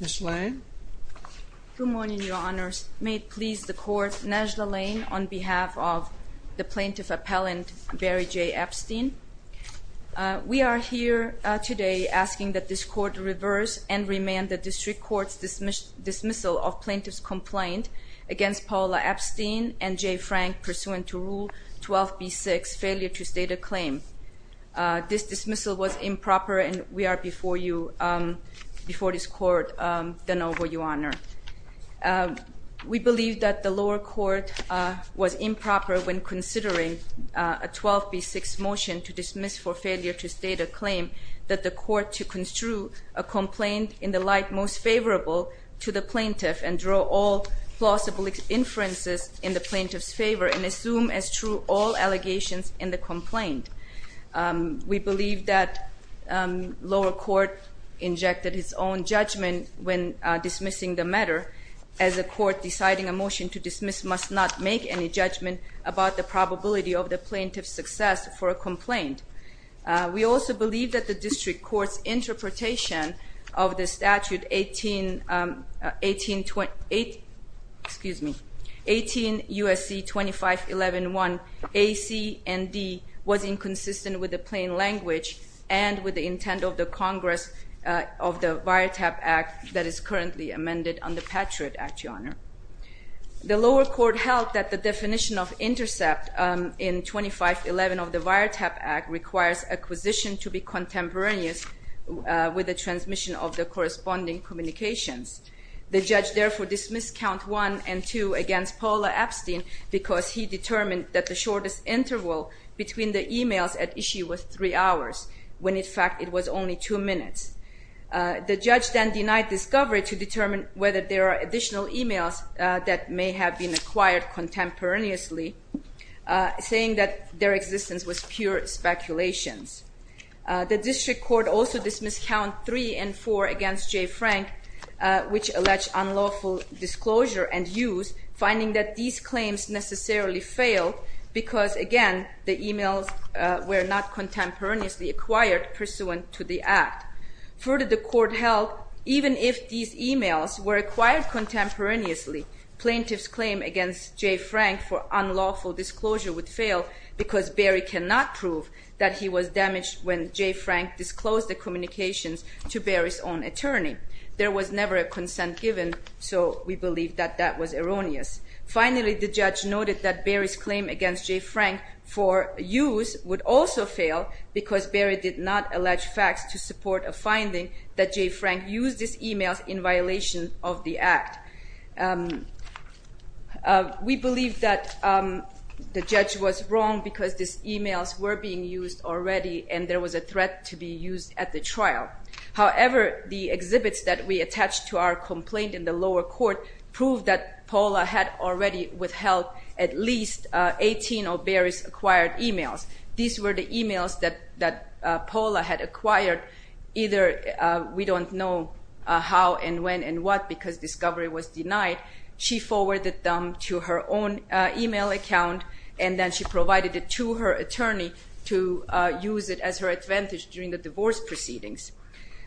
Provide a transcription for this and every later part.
Ms. Lane. Good morning, Your Honors. May it please the Court, Najla Lane on behalf of the Plaintiff Appellant Barry J. Epstein. We are here today asking that this Court reverse and remand the District Court's dismissal of Plaintiff's complaint against Paula Epstein and J. Frank pursuant to Rule 12b-6, Failure to State a Claim. This dismissal was improper and we are before you, before this Court, de novo, Your Honor. We believe that the lower court was improper when considering a 12b-6 motion to dismiss for failure to state a claim that the Court to construe a complaint in the light most favorable to the Plaintiff and draw all plausible inferences in the Plaintiff's favor and assume as true all allegations in the complaint. We believe that lower court injected its own judgment when dismissing the matter as a court deciding a motion to dismiss must not make any judgment about the probability of the Plaintiff's success for a complaint. We also believe that the District Court's interpretation of the Statute 18 U.S.C. 2511-1 A, C, and D was inconsistent with the plain language and with the intent of the Congress of the VIATAP Act that is currently amended under Patriot Act, Your Honor. The lower court held that the definition of intercept in 2511 of the VIATAP Act requires acquisition to be contemporaneous with the transmission of the corresponding communications. The judge therefore dismissed Count 1 and 2 against Paula Epstein because he determined that the shortest interval between the emails at issue was that may have been acquired contemporaneously, saying that their existence was pure speculations. The District Court also dismissed Count 3 and 4 against J. Frank which alleged unlawful disclosure and use, finding that these claims necessarily failed because, again, the emails were not contemporaneously acquired pursuant to the Act. Further, the court held even if these emails were acquired contemporaneously, Plaintiff's claim against J. Frank for unlawful disclosure would fail because Barry cannot prove that he was damaged when J. Frank disclosed the communications to Barry's own attorney. There was never a consent given, so we believe that that was erroneous. Finally, the judge noted that Barry's claim against J. Frank for use would also fail because Barry did not allege facts to support a finding that J. Frank used these emails in violation of the Act. We believe that the judge was wrong because these emails were being used already and there was a threat to be used at the trial. However, the exhibits that we have already withheld at least 18 of Barry's acquired emails. These were the emails that Paula had acquired, either we don't know how and when and what because discovery was denied. She forwarded them to her own email account and then she provided it to her attorney to use it as her advantage during the divorce proceedings.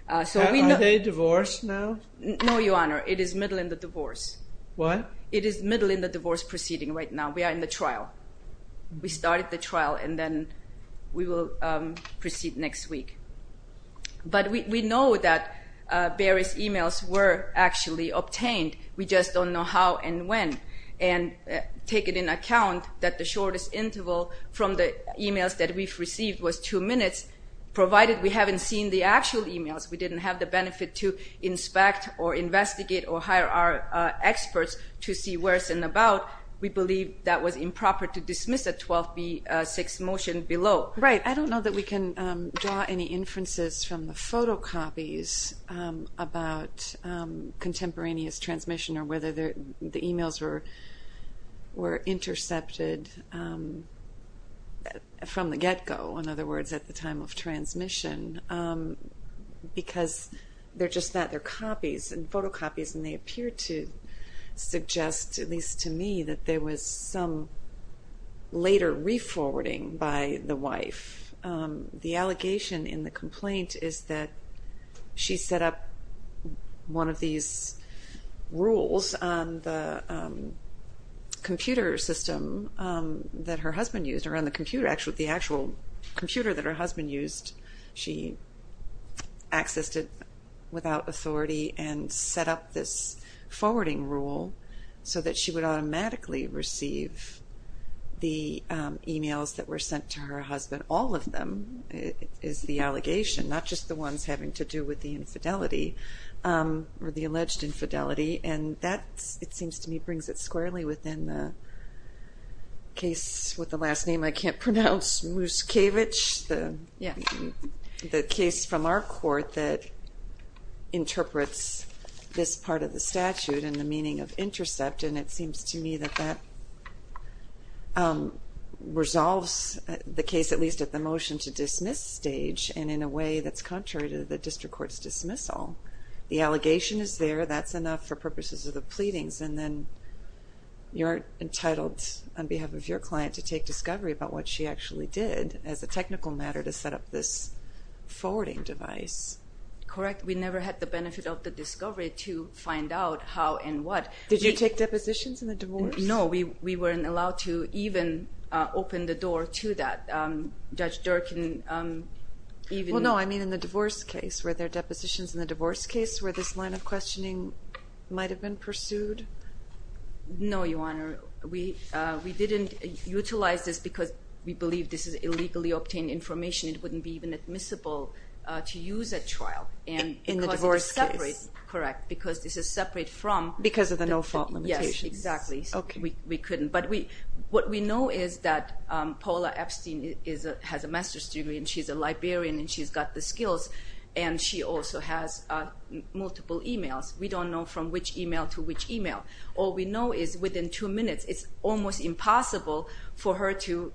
Are they divorced now? No, Your Honor. It is middle in the divorce. What? It is middle in the divorce proceeding right now. We are in the trial. We started the trial and then we will proceed next week. But we know that Barry's emails were actually the benefit to inspect or investigate or hire our experts to see worse and about. We believe that was improper to dismiss a 12B6 motion below. Right. I don't know that we can draw any inferences from the photocopies about contemporaneous transmission or whether the emails were intercepted from the get-go. In other words, at the time of transmission. Because they're just that. They're copies and photocopies and they appear to suggest, at least to me, that there was some later re-forwarding by the wife. The allegation in the complaint is that she set up one of these rules on the computer system that her husband used. She accessed it without authority and set up this forwarding rule so that she would automatically receive the emails that were sent to her husband. All of them is the allegation, not just the ones having to do with the infidelity or the alleged infidelity. And that, it seems to me, brings it squarely within the case with the last name I can't pronounce, Muscovich, the case from our court that interprets this part of the statute and the meaning of intercept. And it seems to me that that resolves the case, at least at the motion to dismiss stage, and in a way that's contrary to the district court's dismissal. The allegation is there. That's enough for purposes of the pleadings. And then you're entitled, on behalf of your client, to take discovery about what she actually did as a technical matter to set up this forwarding device. Correct. We never had the benefit of the discovery to find out how and what. Did you take depositions in the divorce? No, we weren't allowed to even open the door to that. Judge Durkin even... Well, no, I mean in the divorce case. Were there depositions in the divorce case where this line of questioning might have been pursued? No, Your Honor. We didn't utilize this because we believe this is illegally obtained information. It wouldn't be even admissible to use at trial. In the divorce case. Correct. Because this is separate from... Because of the no-fault limitations. Exactly. We couldn't. But what we know is that Paula Epstein has a master's degree and she's a librarian and she's got the skills, and she also has multiple emails. We don't know from which email to which email. All we know is within two minutes, it's almost impossible for her to...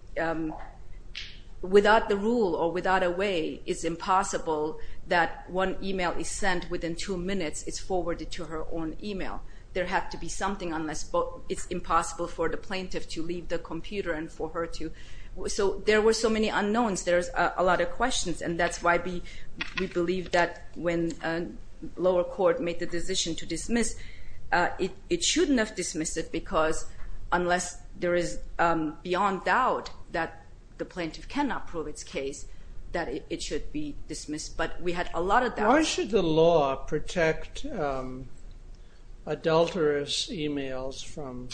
It's impossible for the plaintiff to leave the computer and for her to... So there were so many unknowns. There's a lot of questions. And that's why we believe that when lower court made the decision to dismiss, it shouldn't have dismissed it because unless there is beyond doubt that the plaintiff cannot prove its case, that it should be dismissed. But we had a lot of doubt. How should the law protect adulterous emails from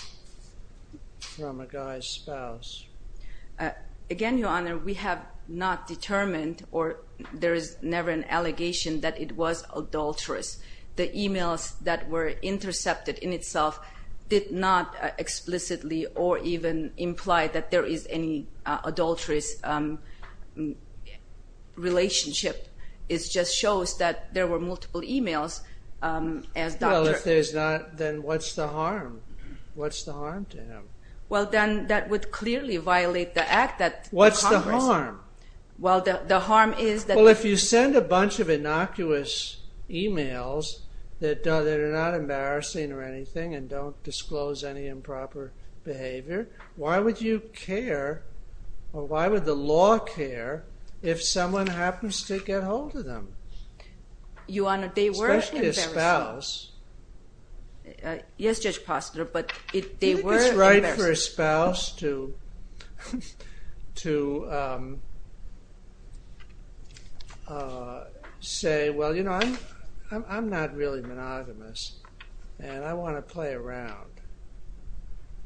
a guy's spouse? Again, Your Honor, we have not determined or there is never an allegation that it was adulterous. The emails that were intercepted in itself did not explicitly or even imply that there is any adulterous relationship. It just shows that there were multiple emails. Well, if there's not, then what's the harm? What's the harm to him? Well, then that would clearly violate the act that... What's the harm? Well, the harm is that... that are not embarrassing or anything and don't disclose any improper behavior. Why would you care or why would the law care if someone happens to get hold of them? Your Honor, they were embarrassing. Especially a spouse. Yes, Judge Postol, but they were embarrassing. It's hard for a spouse to say, well, you know, I'm not really monogamous and I want to play around.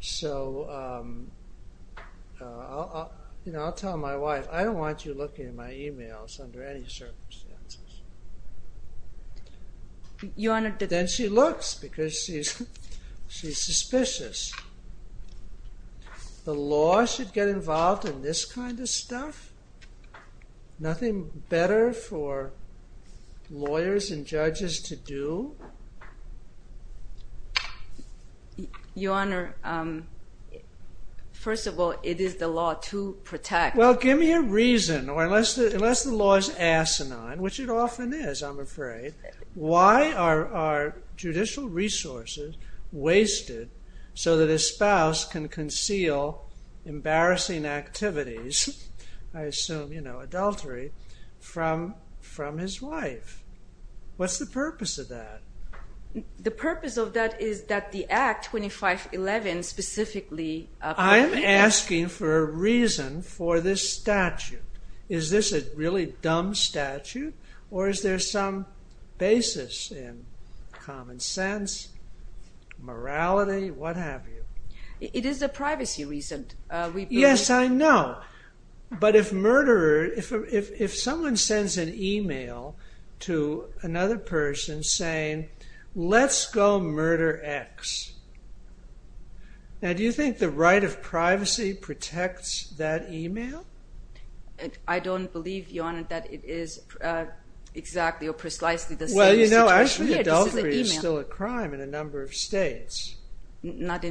So, you know, I'll tell my wife, I don't want you looking at my emails under any circumstances. Your Honor... And then she looks because she's suspicious. The law should get involved in this kind of stuff? Nothing better for lawyers and judges to do? Your Honor, first of all, it is the law to protect... Well, give me a reason or unless the law is asinine, which it often is, I'm afraid. Why are judicial resources wasted so that a spouse can conceal embarrassing activities, I assume, you know, adultery, from his wife? What's the purpose of that? The purpose of that is that the Act 2511 specifically... I'm asking for a reason for this statute. Is this a really dumb statute or is there some basis in common sense, morality, what have you? It is a privacy reason. Yes, I know. But if someone sends an email to another person saying, let's go murder X. Now, do you think the right of privacy protects that email? I don't believe, Your Honor, that it is exactly or precisely the same situation. Well, you know, actually adultery is still a crime in a number of states.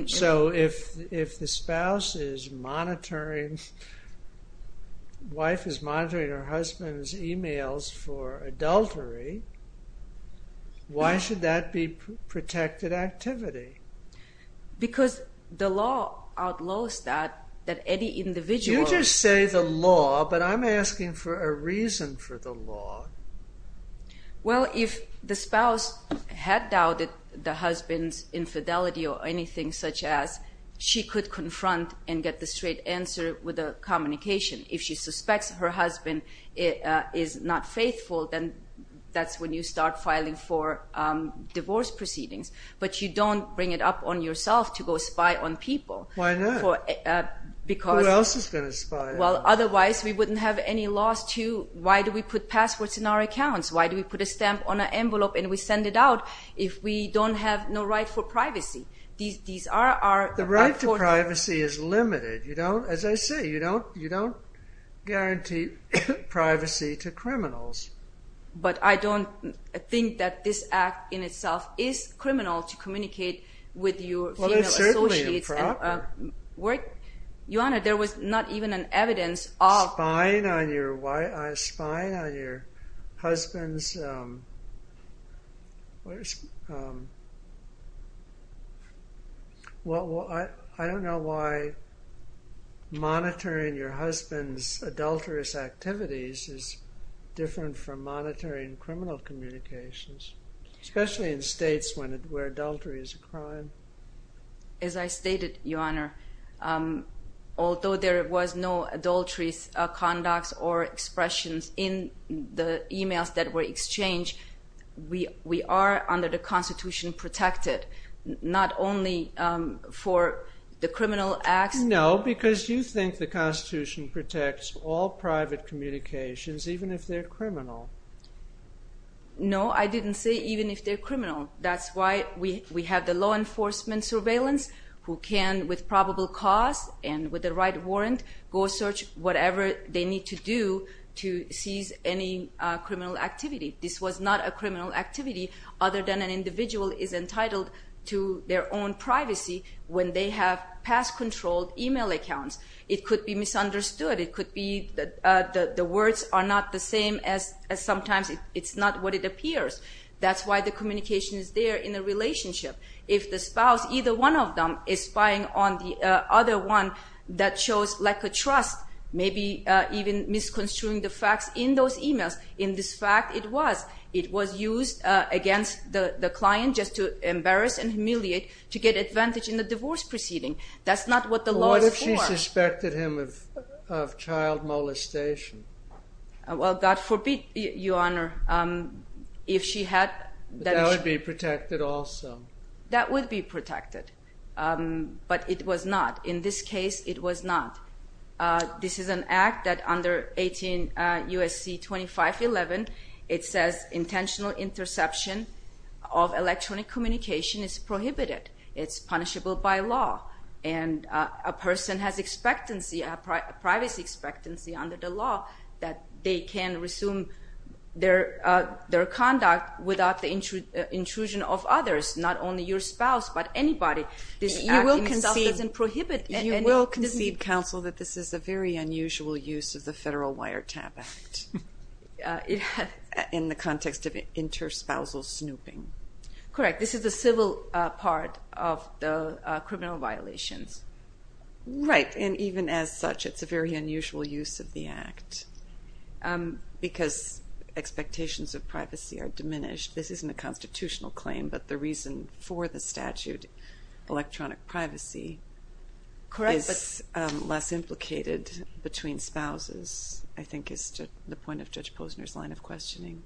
So, if the spouse is monitoring, wife is monitoring her husband's emails for adultery, why should that be protected activity? Because the law outlaws that, that any individual... You just say the law, but I'm asking for a reason for the law. Well, if the spouse had doubted the husband's infidelity or anything such as, she could confront and get the straight answer with a communication. If she suspects her husband is not faithful, then that's when you start filing for divorce proceedings. But you don't bring it up on yourself to go spy on people. Why not? Because... Who else is going to spy? Well, otherwise we wouldn't have any loss to, why do we put passwords in our accounts? Why do we put a stamp on an envelope and we send it out if we don't have no right for privacy? These are our... The right to privacy is limited. You don't, as I say, you don't guarantee privacy to criminals. But I don't think that this act in itself is criminal to communicate with your female associates. Well, it's certainly improper. Your Honor, there was not even an evidence of... Spying on your husband's... I don't know why monitoring your husband's adulterous activities is different from monitoring criminal communications, as I stated, Your Honor. Although there was no adultery conducts or expressions in the emails that were exchanged, we are under the Constitution protected. Not only for the criminal acts... No, because you think the Constitution protects all private communications, even if they're criminal. That's why we have the law enforcement surveillance, who can, with probable cause and with the right warrant, go search whatever they need to do to seize any criminal activity. This was not a criminal activity other than an individual is entitled to their own privacy when they have pass-controlled email accounts. It could be misunderstood. It could be that the words are not the same as sometimes. It's not what it appears. That's why the communication is there in the relationship. If the spouse, either one of them, is spying on the other one that shows lack of trust, maybe even misconstruing the facts in those emails, in this fact it was. It was used against the client just to embarrass and humiliate, to get advantage in the divorce proceeding. That's not what the law is for. What if she suspected him of child molestation? Well, God forbid, Your Honor. If she had... That would be protected also. That would be protected, but it was not. In this case, it was not. This is an act that under 18 U.S.C. 2511, it says intentional interception of electronic communication is prohibited. It's punishable by law, and a person has expectancy, a privacy expectancy under the law, that they can resume their conduct without the intrusion of others, not only your spouse, but anybody. This act itself doesn't prohibit any... You will concede, counsel, that this is a very unusual use of the Federal Wiretap Act in the context of interspousal snooping. Correct. This is the civil part of the criminal violations. Right. And even as such, it's a very unusual use of the act because expectations of privacy are diminished. This isn't a constitutional claim, but the reason for the statute, electronic privacy... Correct, but... ...is less implicated between spouses, I think, is to the point of Judge Posner's line of questioning.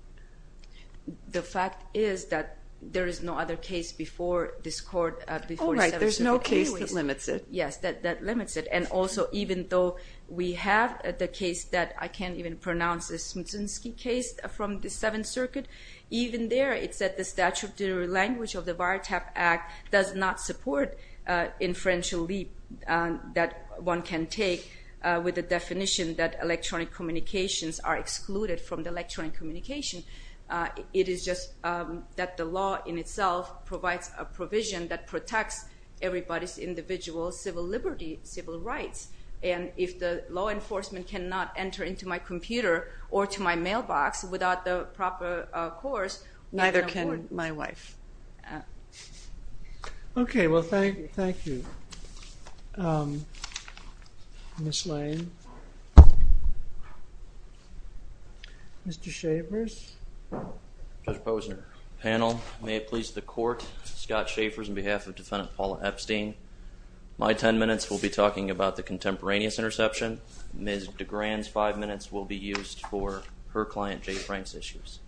The fact is that there is no other case before this court... Oh, right. There's no case that limits it. Yes, that limits it. And also, even though we have the case that I can't even pronounce, the Smutsensky case from the Seventh Circuit, even there it said the statutory language of the Wiretap Act does not support inferential leap that one can take with the definition that electronic communications are excluded from the electronic communication. It is just that the law in itself provides a provision that protects everybody's individual civil liberty, civil rights. And if the law enforcement cannot enter into my computer or to my mailbox without the proper course... Neither can my wife. Okay, well, thank you. Ms. Lane. Mr. Schaffers. Judge Posner. Panel, may it please the court. Scott Schaffers on behalf of Defendant Paula Epstein. My ten minutes will be talking about the contemporaneous interception. Ms. DeGran's five minutes will be used for her client Jay Frank's issues.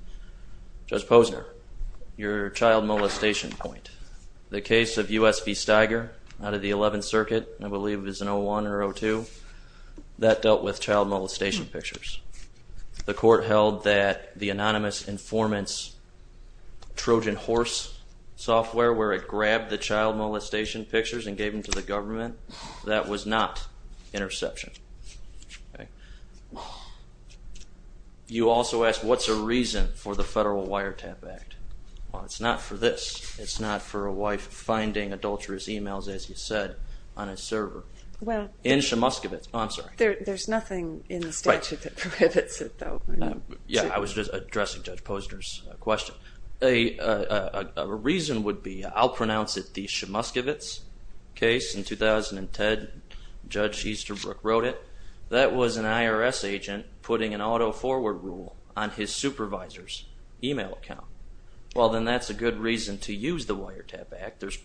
Judge Posner, your child molestation point. The case of U.S. v. Steiger out of the Eleventh Circuit, I believe it was in 01 or 02, that dealt with child molestation pictures. The court held that the anonymous informant's Trojan horse software where it grabbed the child molestation pictures and gave them to the government, that was not interception. You also asked what's the reason for the Federal Wiretap Act. Well, it's not for this. It's not for a wife finding adulterous emails, as you said, on a server. In Shemuskowitz. Oh, I'm sorry. There's nothing in the statute that prohibits it though. Yeah, I was just addressing Judge Posner's question. A reason would be, I'll pronounce it the Shemuskowitz case in 2010. Judge Easterbrook wrote it. That was an IRS agent putting an auto-forward rule on his supervisor's email account. Well, then that's a good reason to use the Wiretap Act. There's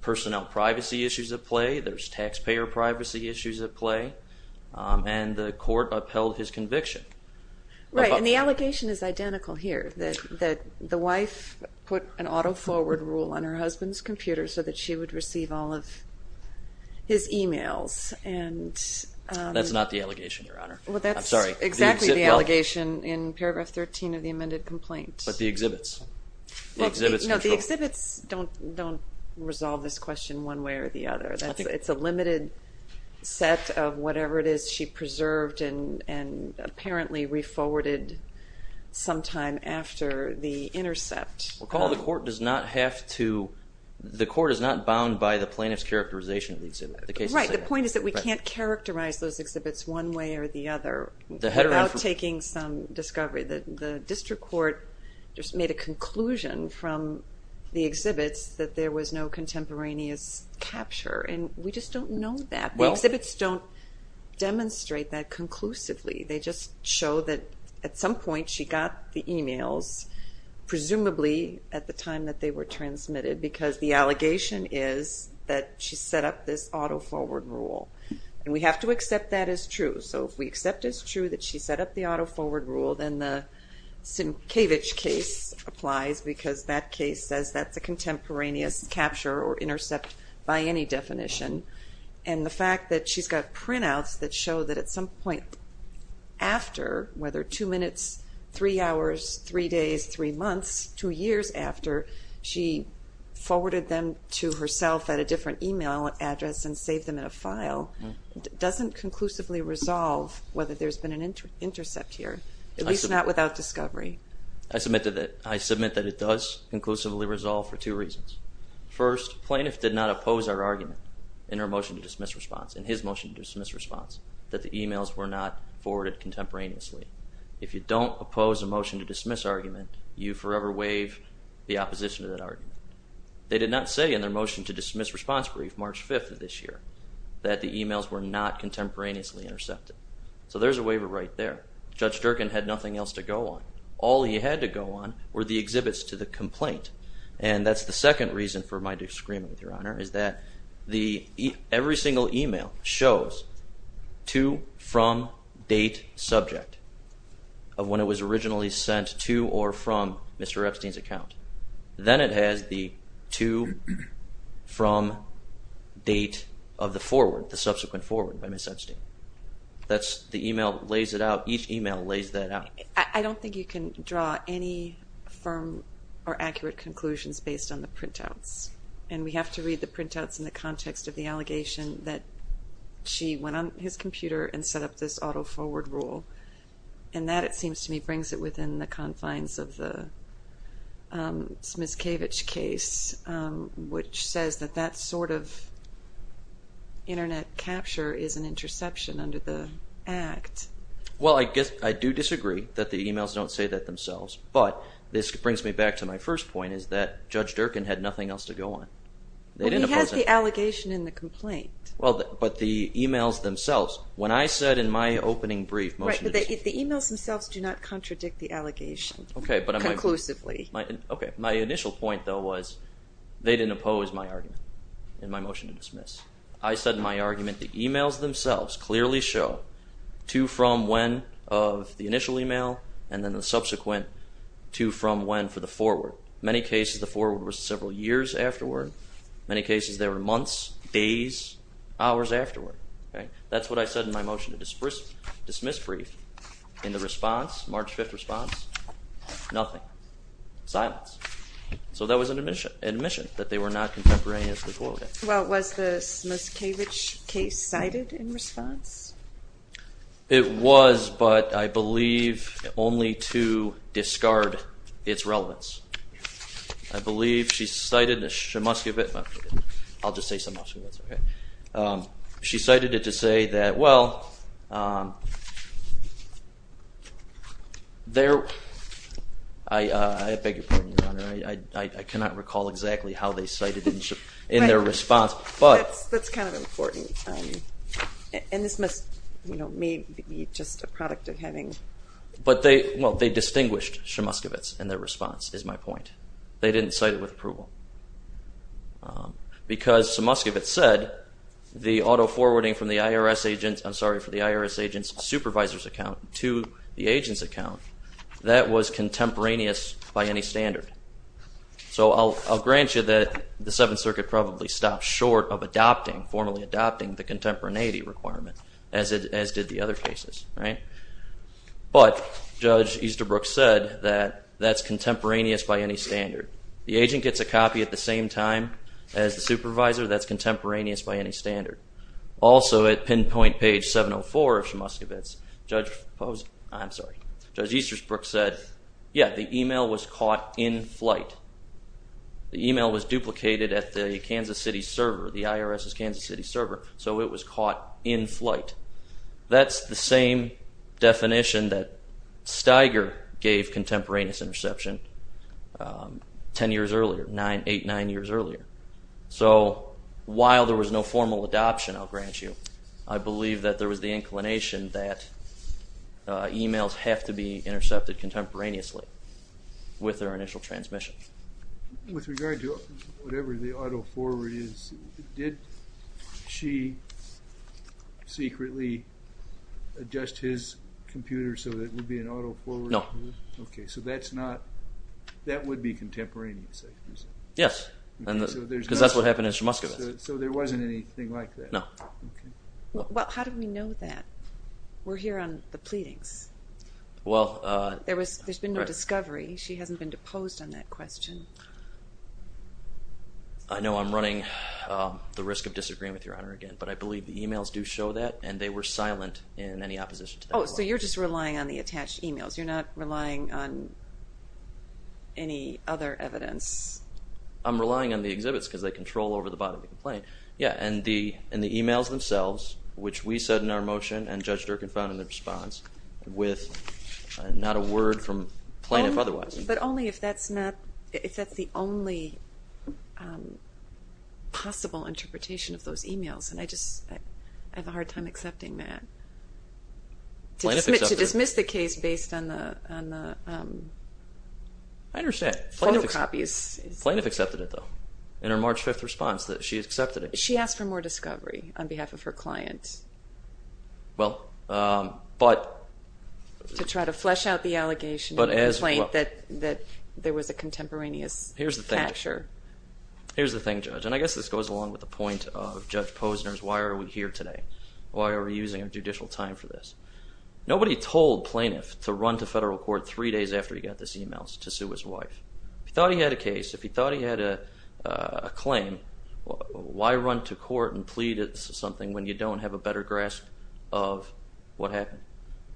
personnel privacy issues at play. There's taxpayer privacy issues at play, and the court upheld his conviction. Right, and the allegation is identical here, that the wife put an auto-forward rule on her husband's computer so that she would receive all of his emails. That's not the allegation, Your Honor. Well, that's exactly the allegation in paragraph 13 of the amended complaint. But the exhibits. No, the exhibits don't resolve this question one way or the other. It's a limited set of whatever it is she preserved and apparently re-forwarded sometime after the intercept. Recall the court is not bound by the plaintiff's characterization of the exhibit. Right, the point is that we can't characterize those exhibits one way or the other without taking some discovery. The district court just made a conclusion from the exhibits that there was no contemporaneous capture, and we just don't know that. The exhibits don't demonstrate that conclusively. They just show that at some point she got the emails, presumably at the time that they were transmitted, because the allegation is that she set up this auto-forward rule. And we have to accept that as true. So if we accept as true that she set up the auto-forward rule, then the Sinkevich case applies because that case says that's a contemporaneous capture or intercept by any definition. And the fact that she's got printouts that show that at some point after, whether two minutes, three hours, three days, three months, two years after, she forwarded them to herself at a different email address and saved them in a file, doesn't conclusively resolve whether there's been an intercept here, at least not without discovery. I submit that it does conclusively resolve for two reasons. First, plaintiff did not oppose our argument in her motion to dismiss response, in his motion to dismiss response, that the emails were not forwarded contemporaneously. If you don't oppose a motion to dismiss argument, you forever waive the opposition to that argument. They did not say in their motion to dismiss response brief March 5th of this year that the emails were not contemporaneously intercepted. So there's a waiver right there. Judge Durkin had nothing else to go on. All he had to go on were the exhibits to the complaint. And that's the second reason for my disagreement, Your Honor, is that every single email shows to, from, date, subject Then it has the to, from, date of the forward, the subsequent forward by Ms. Epstein. That's the email that lays it out. Each email lays that out. I don't think you can draw any firm or accurate conclusions based on the printouts. And we have to read the printouts in the context of the allegation that she went on his computer and set up this auto-forward rule. And that, it seems to me, brings it within the confines of the Smiskevich case, which says that that sort of Internet capture is an interception under the Act. Well, I guess I do disagree that the emails don't say that themselves. But this brings me back to my first point, is that Judge Durkin had nothing else to go on. Well, but the emails themselves, when I said in my opening brief, Right, but the emails themselves do not contradict the allegation conclusively. Okay, my initial point, though, was they didn't oppose my argument in my motion to dismiss. I said in my argument the emails themselves clearly show to, from, when of the initial email and then the subsequent to, from, when for the forward. In many cases, the forward was several years afterward. In many cases, they were months, days, hours afterward. That's what I said in my motion to dismiss brief. In the response, March 5th response, nothing, silence. So that was an admission that they were not contemporaneously coiling. Well, was the Smiskevich case cited in response? It was, but I believe only to discard its relevance. I believe she cited the Smiskevich, I'll just say Smiskevich, okay. She cited it to say that, well, there, I beg your pardon, Your Honor, I cannot recall exactly how they cited it in their response, but. That's kind of important, and this must, you know, may be just a product of having. But they, well, they distinguished Smiskevich in their response is my point. They didn't cite it with approval. Because Smiskevich said the auto-forwarding from the IRS agent's, I'm sorry, from the IRS agent's supervisor's account to the agent's account, that was contemporaneous by any standard. So I'll grant you that the Seventh Circuit probably stopped short of adopting, formally adopting the contemporaneity requirement, as did the other cases, right? But Judge Easterbrook said that that's contemporaneous by any standard. The agent gets a copy at the same time as the supervisor, that's contemporaneous by any standard. Also, at pinpoint page 704 of Smiskevich, Judge Easterbrook said, yeah, the email was caught in flight. The email was duplicated at the Kansas City server, the IRS's Kansas City server, so it was caught in flight. That's the same definition that Steiger gave contemporaneous interception 10 years earlier, eight, nine years earlier. So while there was no formal adoption, I'll grant you, I believe that there was the inclination that emails have to be intercepted contemporaneously with their initial transmission. With regard to whatever the auto-forward is, did she secretly adjust his computer so that it would be an auto-forward? No. Okay, so that's not, that would be contemporaneous. Yes, because that's what happened in Smiskevich. So there wasn't anything like that. No. Well, how do we know that? We're here on the pleadings. There's been no discovery. She hasn't been deposed on that question. I know I'm running the risk of disagreeing with Your Honor again, but I believe the emails do show that, and they were silent in any opposition to that. Oh, so you're just relying on the attached emails. You're not relying on any other evidence. I'm relying on the exhibits because they control over the body of the complaint. Yeah, and the emails themselves, which we said in our motion and Judge Durkan found in the response with not a word from Plaintiff otherwise. But only if that's the only possible interpretation of those emails, and I just have a hard time accepting that. Plaintiff accepted it. To dismiss the case based on the photocopies. I understand. Plaintiff accepted it, though, in her March 5th response that she accepted it. She asked for more discovery on behalf of her client. Well, but... To try to flesh out the allegation of the complaint that there was a contemporaneous capture. Here's the thing, Judge, and I guess this goes along with the point of Judge Posner's why are we here today, why are we using judicial time for this. Nobody told Plaintiff to run to federal court three days after he got these emails to sue his wife. If he thought he had a case, if he thought he had a claim, why run to court and plead something when you don't have a better grasp of what happened?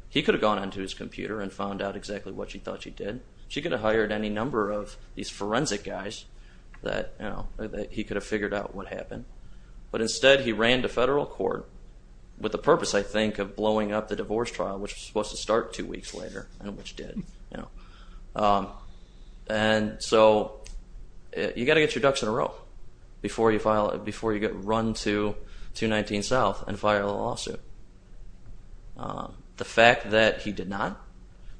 He could have gone onto his computer and found out exactly what she thought she did. She could have hired any number of these forensic guys that he could have figured out what happened. But instead he ran to federal court with the purpose, I think, of blowing up the divorce trial, which was supposed to start two weeks later, and which did. And so you've got to get your ducks in a row before you run to 219 South and file a lawsuit. The fact that he did not,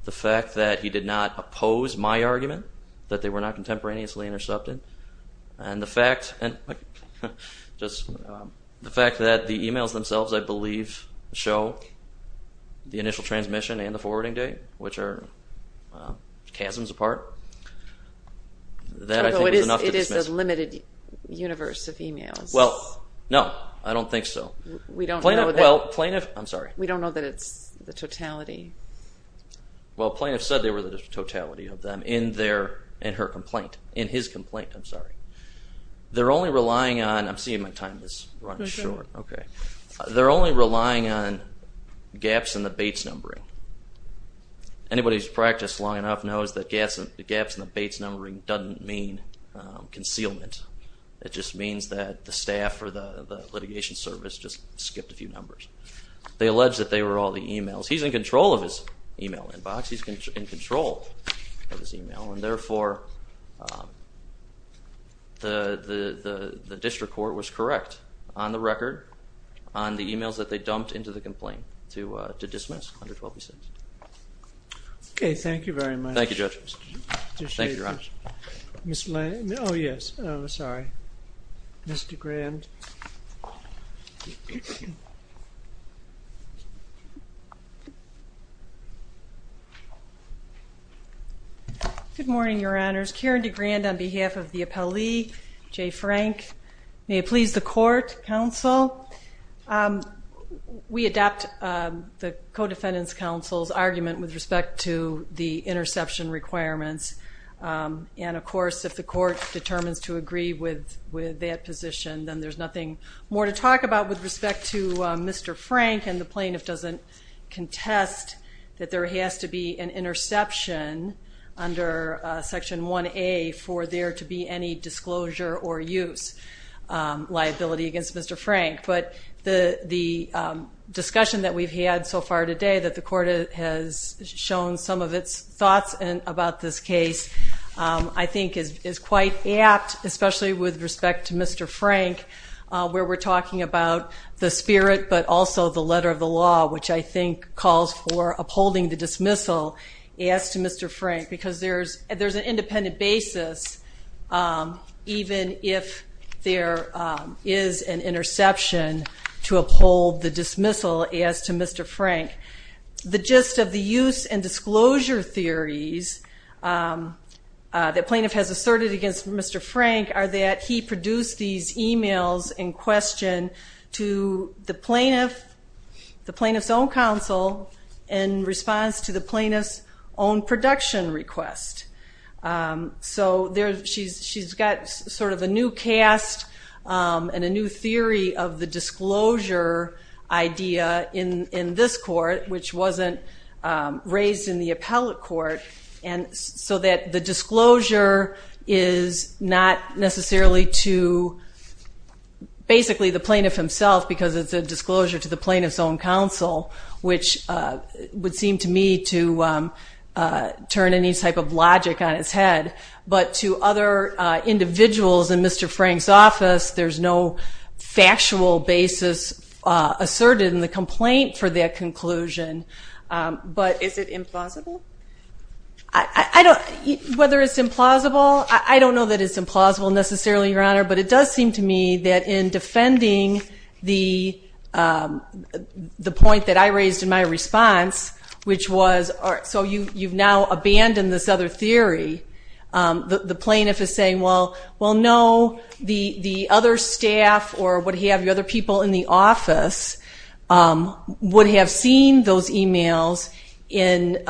the fact that he did not oppose my argument, that they were not contemporaneously intercepted, and the fact that the emails themselves, I believe, show the initial transmission and the forwarding date, which are chasms apart, that I think is enough to dismiss. Although it is a limited universe of emails. Well, no, I don't think so. We don't know that. Plaintiff, I'm sorry. We don't know that it's the totality. Well, Plaintiff said they were the totality of them in her complaint, in his complaint, I'm sorry. They're only relying on, I'm seeing my time is running short. Okay. They're only relying on gaps in the Bates numbering. Anybody who's practiced long enough knows that gaps in the Bates numbering doesn't mean concealment. It just means that the staff or the litigation service just skipped a few numbers. They allege that they were all the emails. He's in control of his email inbox. He's in control of his email. And therefore, the district court was correct on the record, on the emails that they dumped into the complaint to dismiss under 12B6. Okay, thank you very much. Thank you, Judge. Thank you, Your Honor. Oh, yes, sorry. Ms. DeGrand. Good morning, Your Honors. Karen DeGrand on behalf of the appellee, Jay Frank. May it please the court, counsel. We adopt the codefendant's counsel's argument with respect to the interception requirements. And, of course, if the court determines to agree with that position, then there's nothing more to talk about with respect to Mr. Frank and the plaintiff doesn't contest that there has to be an interception under Section 1A for there to be any disclosure or use liability against Mr. Frank. But the discussion that we've had so far today, that the court has shown some of its thoughts about this case, I think is quite apt, especially with respect to Mr. Frank, where we're talking about the spirit but also the letter of the law, which I think calls for upholding the dismissal as to Mr. Frank. Because there's an independent basis, even if there is an interception to uphold the dismissal as to Mr. Frank. The gist of the use and disclosure theories that plaintiff has asserted against Mr. Frank are that he produced these e-mails in question to the plaintiff, the plaintiff's own counsel, in response to the plaintiff's own production request. So she's got sort of a new cast and a new theory of the disclosure idea in this court, which wasn't raised in the appellate court, so that the disclosure is not necessarily to basically the plaintiff himself, because it's a disclosure to the plaintiff's own counsel, which would seem to me to turn any type of logic on its head. But to other individuals in Mr. Frank's office, there's no factual basis asserted in the complaint for that conclusion. But is it implausible? Whether it's implausible, I don't know that it's implausible necessarily, Your Honor. But it does seem to me that in defending the point that I raised in my response, which was so you've now abandoned this other theory, the plaintiff is saying, well, no, the other staff or what have you, other people in the office, would have seen those e-mails in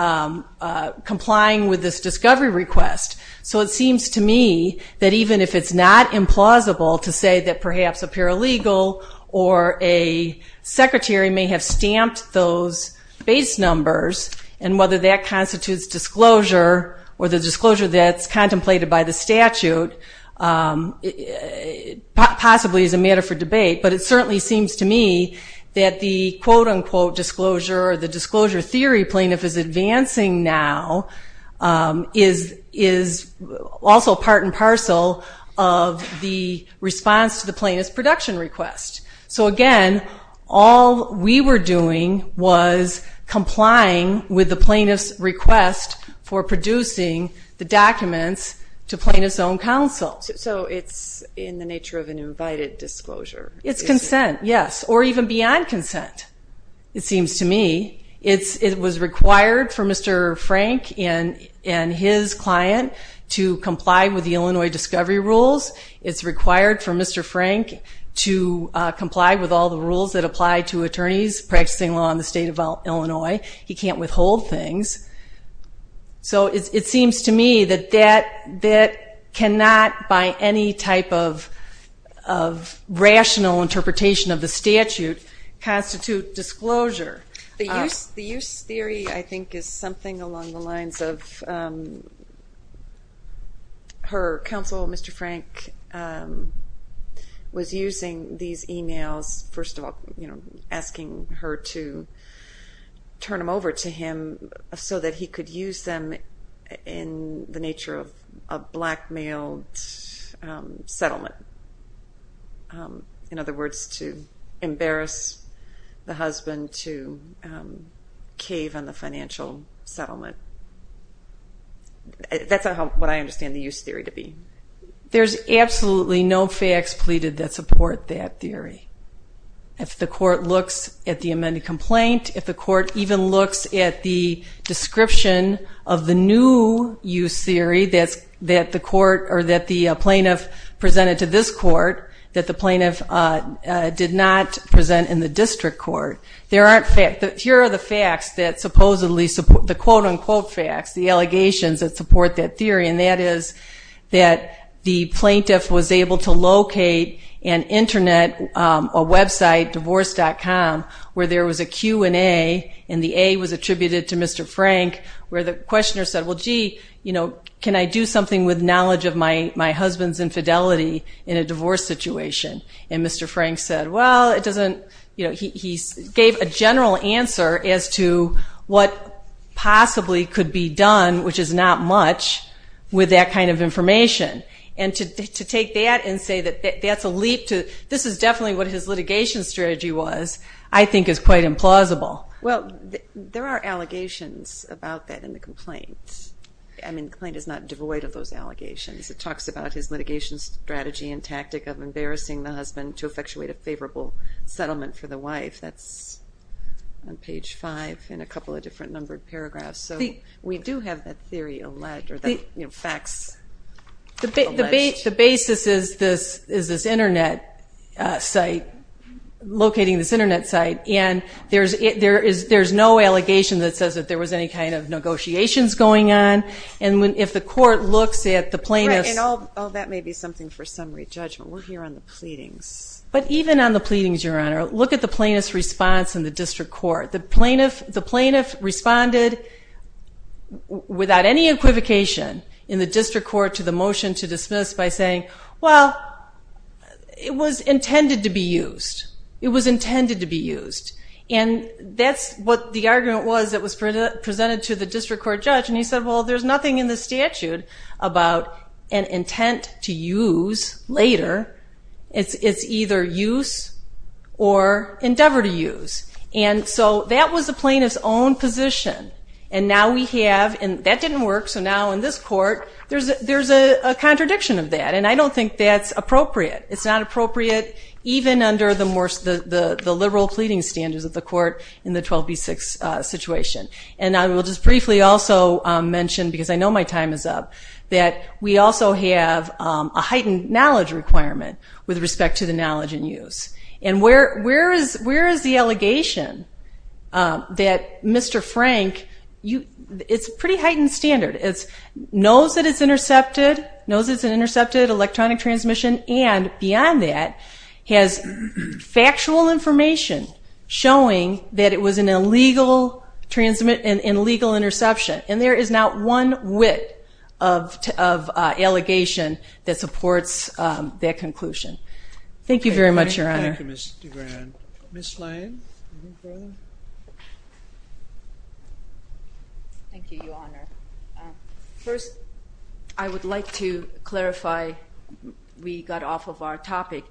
complying with this discovery request. So it seems to me that even if it's not implausible to say that perhaps a paralegal or a secretary may have stamped those base numbers, and whether that constitutes disclosure or the disclosure that's contemplated by the statute possibly is a matter for debate. But it certainly seems to me that the quote-unquote disclosure or the disclosure theory plaintiff is advancing now is also part and parcel of the response to the plaintiff's production request. So, again, all we were doing was complying with the plaintiff's request for producing the documents to plaintiff's own counsel. So it's in the nature of an invited disclosure? It's consent, yes, or even beyond consent, it seems to me. It was required for Mr. Frank and his client to comply with the Illinois discovery rules. It's required for Mr. Frank to comply with all the rules that apply to attorneys practicing law in the state of Illinois. He can't withhold things. So it seems to me that that cannot, by any type of rational interpretation of the statute, constitute disclosure. The use theory, I think, is something along the lines of her counsel, Mr. Frank, was using these e-mails, first of all, asking her to turn them over to him so that he could use them in the nature of a blackmailed settlement. In other words, to embarrass the husband to cave on the financial settlement. That's what I understand the use theory to be. There's absolutely no facts pleaded that support that theory. If the court looks at the amended complaint, if the court even looks at the description of the new use theory that the plaintiff presented to this court, that the plaintiff did not present in the district court, here are the facts that supposedly support, the quote-unquote facts, the allegations that support that theory, and that is that the plaintiff was able to locate and internet a website, divorce.com, where there was a Q&A, and the A was attributed to Mr. Frank, where the questioner said, well, gee, you know, can I do something with knowledge of my husband's infidelity in a divorce situation? And Mr. Frank said, well, it doesn't, you know, he gave a general answer as to what possibly could be done, which is not much, with that kind of information. And to take that and say that that's a leap to, this is definitely what his litigation strategy was, I think is quite implausible. Well, there are allegations about that in the complaint. I mean, the complaint is not devoid of those allegations. It talks about his litigation strategy and tactic of embarrassing the husband to effectuate a favorable settlement for the wife. That's on page 5 in a couple of different numbered paragraphs. So we do have that theory alleged, or that, you know, facts alleged. The basis is this Internet site, locating this Internet site, and there's no allegation that says that there was any kind of negotiations going on. And if the court looks at the plaintiff's – Right, and that may be something for summary judgment. We're here on the pleadings. But even on the pleadings, Your Honor, look at the plaintiff's response in the district court. The plaintiff responded without any equivocation in the district court to the motion to dismiss by saying, well, it was intended to be used. It was intended to be used. And that's what the argument was that was presented to the district court judge. And he said, well, there's nothing in the statute about an intent to use later. It's either use or endeavor to use. And so that was the plaintiff's own position. And now we have – and that didn't work. So now in this court, there's a contradiction of that, and I don't think that's appropriate. It's not appropriate even under the liberal pleading standards of the court in the 12B6 situation. And I will just briefly also mention, because I know my time is up, that we also have a heightened knowledge requirement with respect to the knowledge in use. And where is the allegation that Mr. Frank – it's a pretty heightened standard. It knows that it's intercepted, knows it's an intercepted electronic transmission, and beyond that has factual information showing that it was an illegal interception. And there is not one whit of allegation that supports that conclusion. Thank you very much, Your Honor. Thank you, Ms. DeGran. Ms. Lane. Ms. Lane. Thank you, Your Honor. First, I would like to clarify we got off of our topic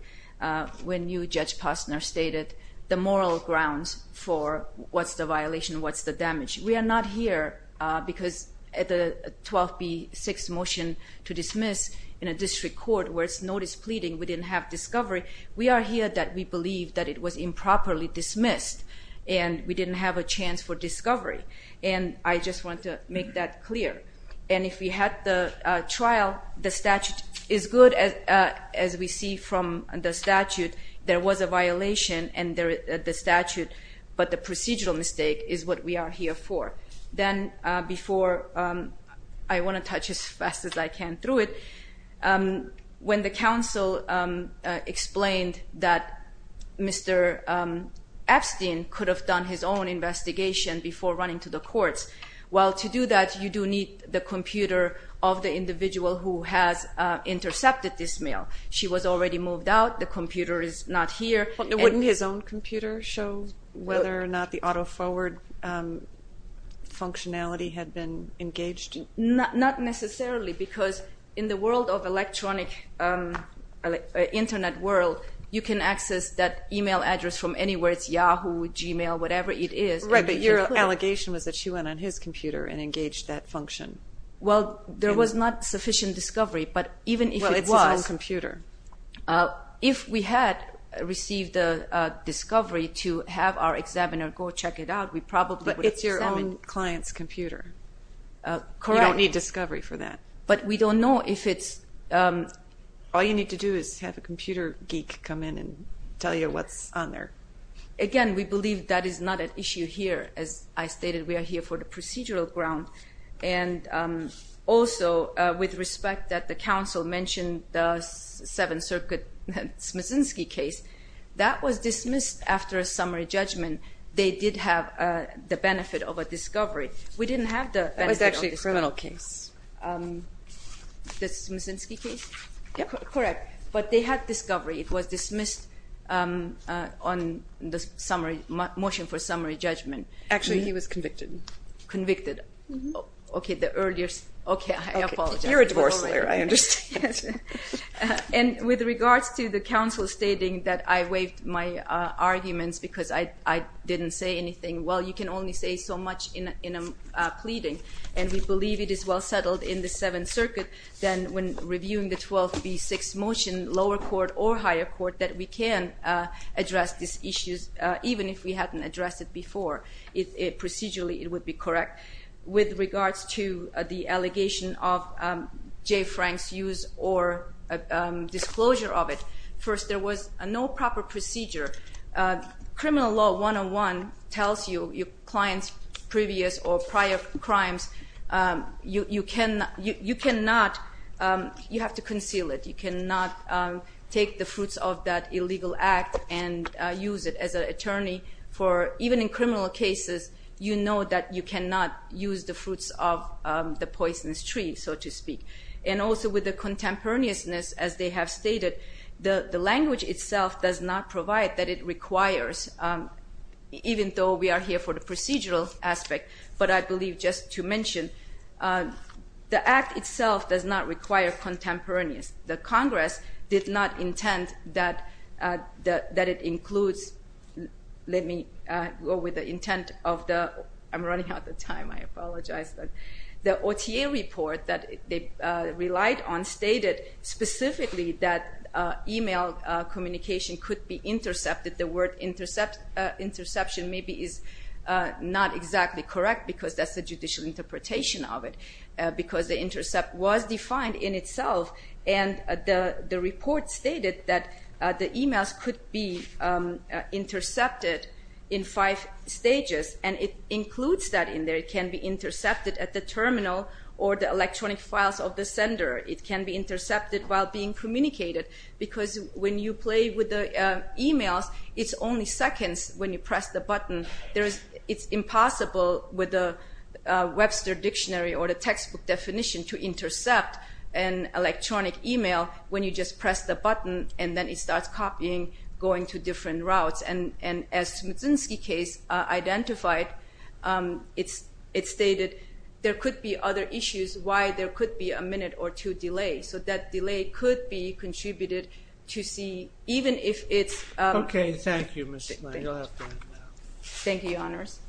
when you, Judge Posner, stated the moral grounds for what's the violation, what's the damage. We are not here because at the 12B6 motion to dismiss in a district court where it's notice pleading, we didn't have discovery. We are here that we believe that it was improperly dismissed and we didn't have a chance for discovery. And I just want to make that clear. And if we had the trial, the statute is good as we see from the statute. There was a violation in the statute, but the procedural mistake is what we are here for. Then before I want to touch as fast as I can through it, when the counsel explained that Mr. Epstein could have done his own investigation before running to the courts, well, to do that, you do need the computer of the individual who has intercepted this mail. She was already moved out. The computer is not here. Wouldn't his own computer show whether or not the auto-forward functionality had been engaged? Not necessarily because in the world of electronic internet world, you can access that email address from anywhere. It's Yahoo, Gmail, whatever it is. Right, but your allegation was that she went on his computer and engaged that function. Well, there was not sufficient discovery, but even if it was. Well, it's his own computer. If we had received a discovery to have our examiner go check it out, we probably would have examined it. But it's your own client's computer. Correct. You don't need discovery for that. But we don't know if it's... All you need to do is have a computer geek come in and tell you what's on there. Again, we believe that is not an issue here. As I stated, we are here for the procedural ground. Also, with respect that the counsel mentioned the Seventh Circuit Smiczynski case, that was dismissed after a summary judgment. They did have the benefit of a discovery. We didn't have the benefit of a discovery. It was actually a criminal case. The Smiczynski case? Correct. But they had discovery. It was dismissed on the motion for summary judgment. Actually, he was convicted. Okay, the earlier... Okay, I apologize. You're a divorce lawyer. I understand. And with regards to the counsel stating that I waived my arguments because I didn't say anything. Well, you can only say so much in a pleading, and we believe it is well settled in the Seventh Circuit that when reviewing the 12B6 motion, lower court or higher court, that we can address these issues, even if we hadn't addressed it before. Procedurally, it would be correct. With regards to the allegation of J. Frank's use or disclosure of it, first, there was no proper procedure. Criminal law 101 tells you your client's previous or prior crimes. You cannot... You have to conceal it. You cannot take the fruits of that illegal act and use it as an attorney. Even in criminal cases, you know that you cannot use the fruits of the poisonous tree, so to speak. And also with the contemporaneousness, as they have stated, the language itself does not provide that it requires, even though we are here for the procedural aspect, but I believe just to mention, the act itself does not require contemporaneous. The Congress did not intend that it includes... Let me go with the intent of the... I'm running out of time. I apologize. The OTA report that they relied on stated specifically that email communication could be intercepted. The word interception maybe is not exactly correct because that's the judicial interpretation of it, because the intercept was defined in itself. And the report stated that the emails could be intercepted in five stages, and it includes that in there. It can be intercepted at the terminal or the electronic files of the sender. It can be intercepted while being communicated because when you play with the emails, it's only seconds when you press the button. It's impossible with the Webster dictionary or the textbook definition to intercept an electronic email when you just press the button and then it starts copying, going to different routes. And as Smitsinsky case identified, it stated there could be other issues why there could be a minute or two delay. So that delay could be contributed to see even if it's... Okay. Thank you, Ms. Smith. You'll have to end now. Thank you, Your Honors.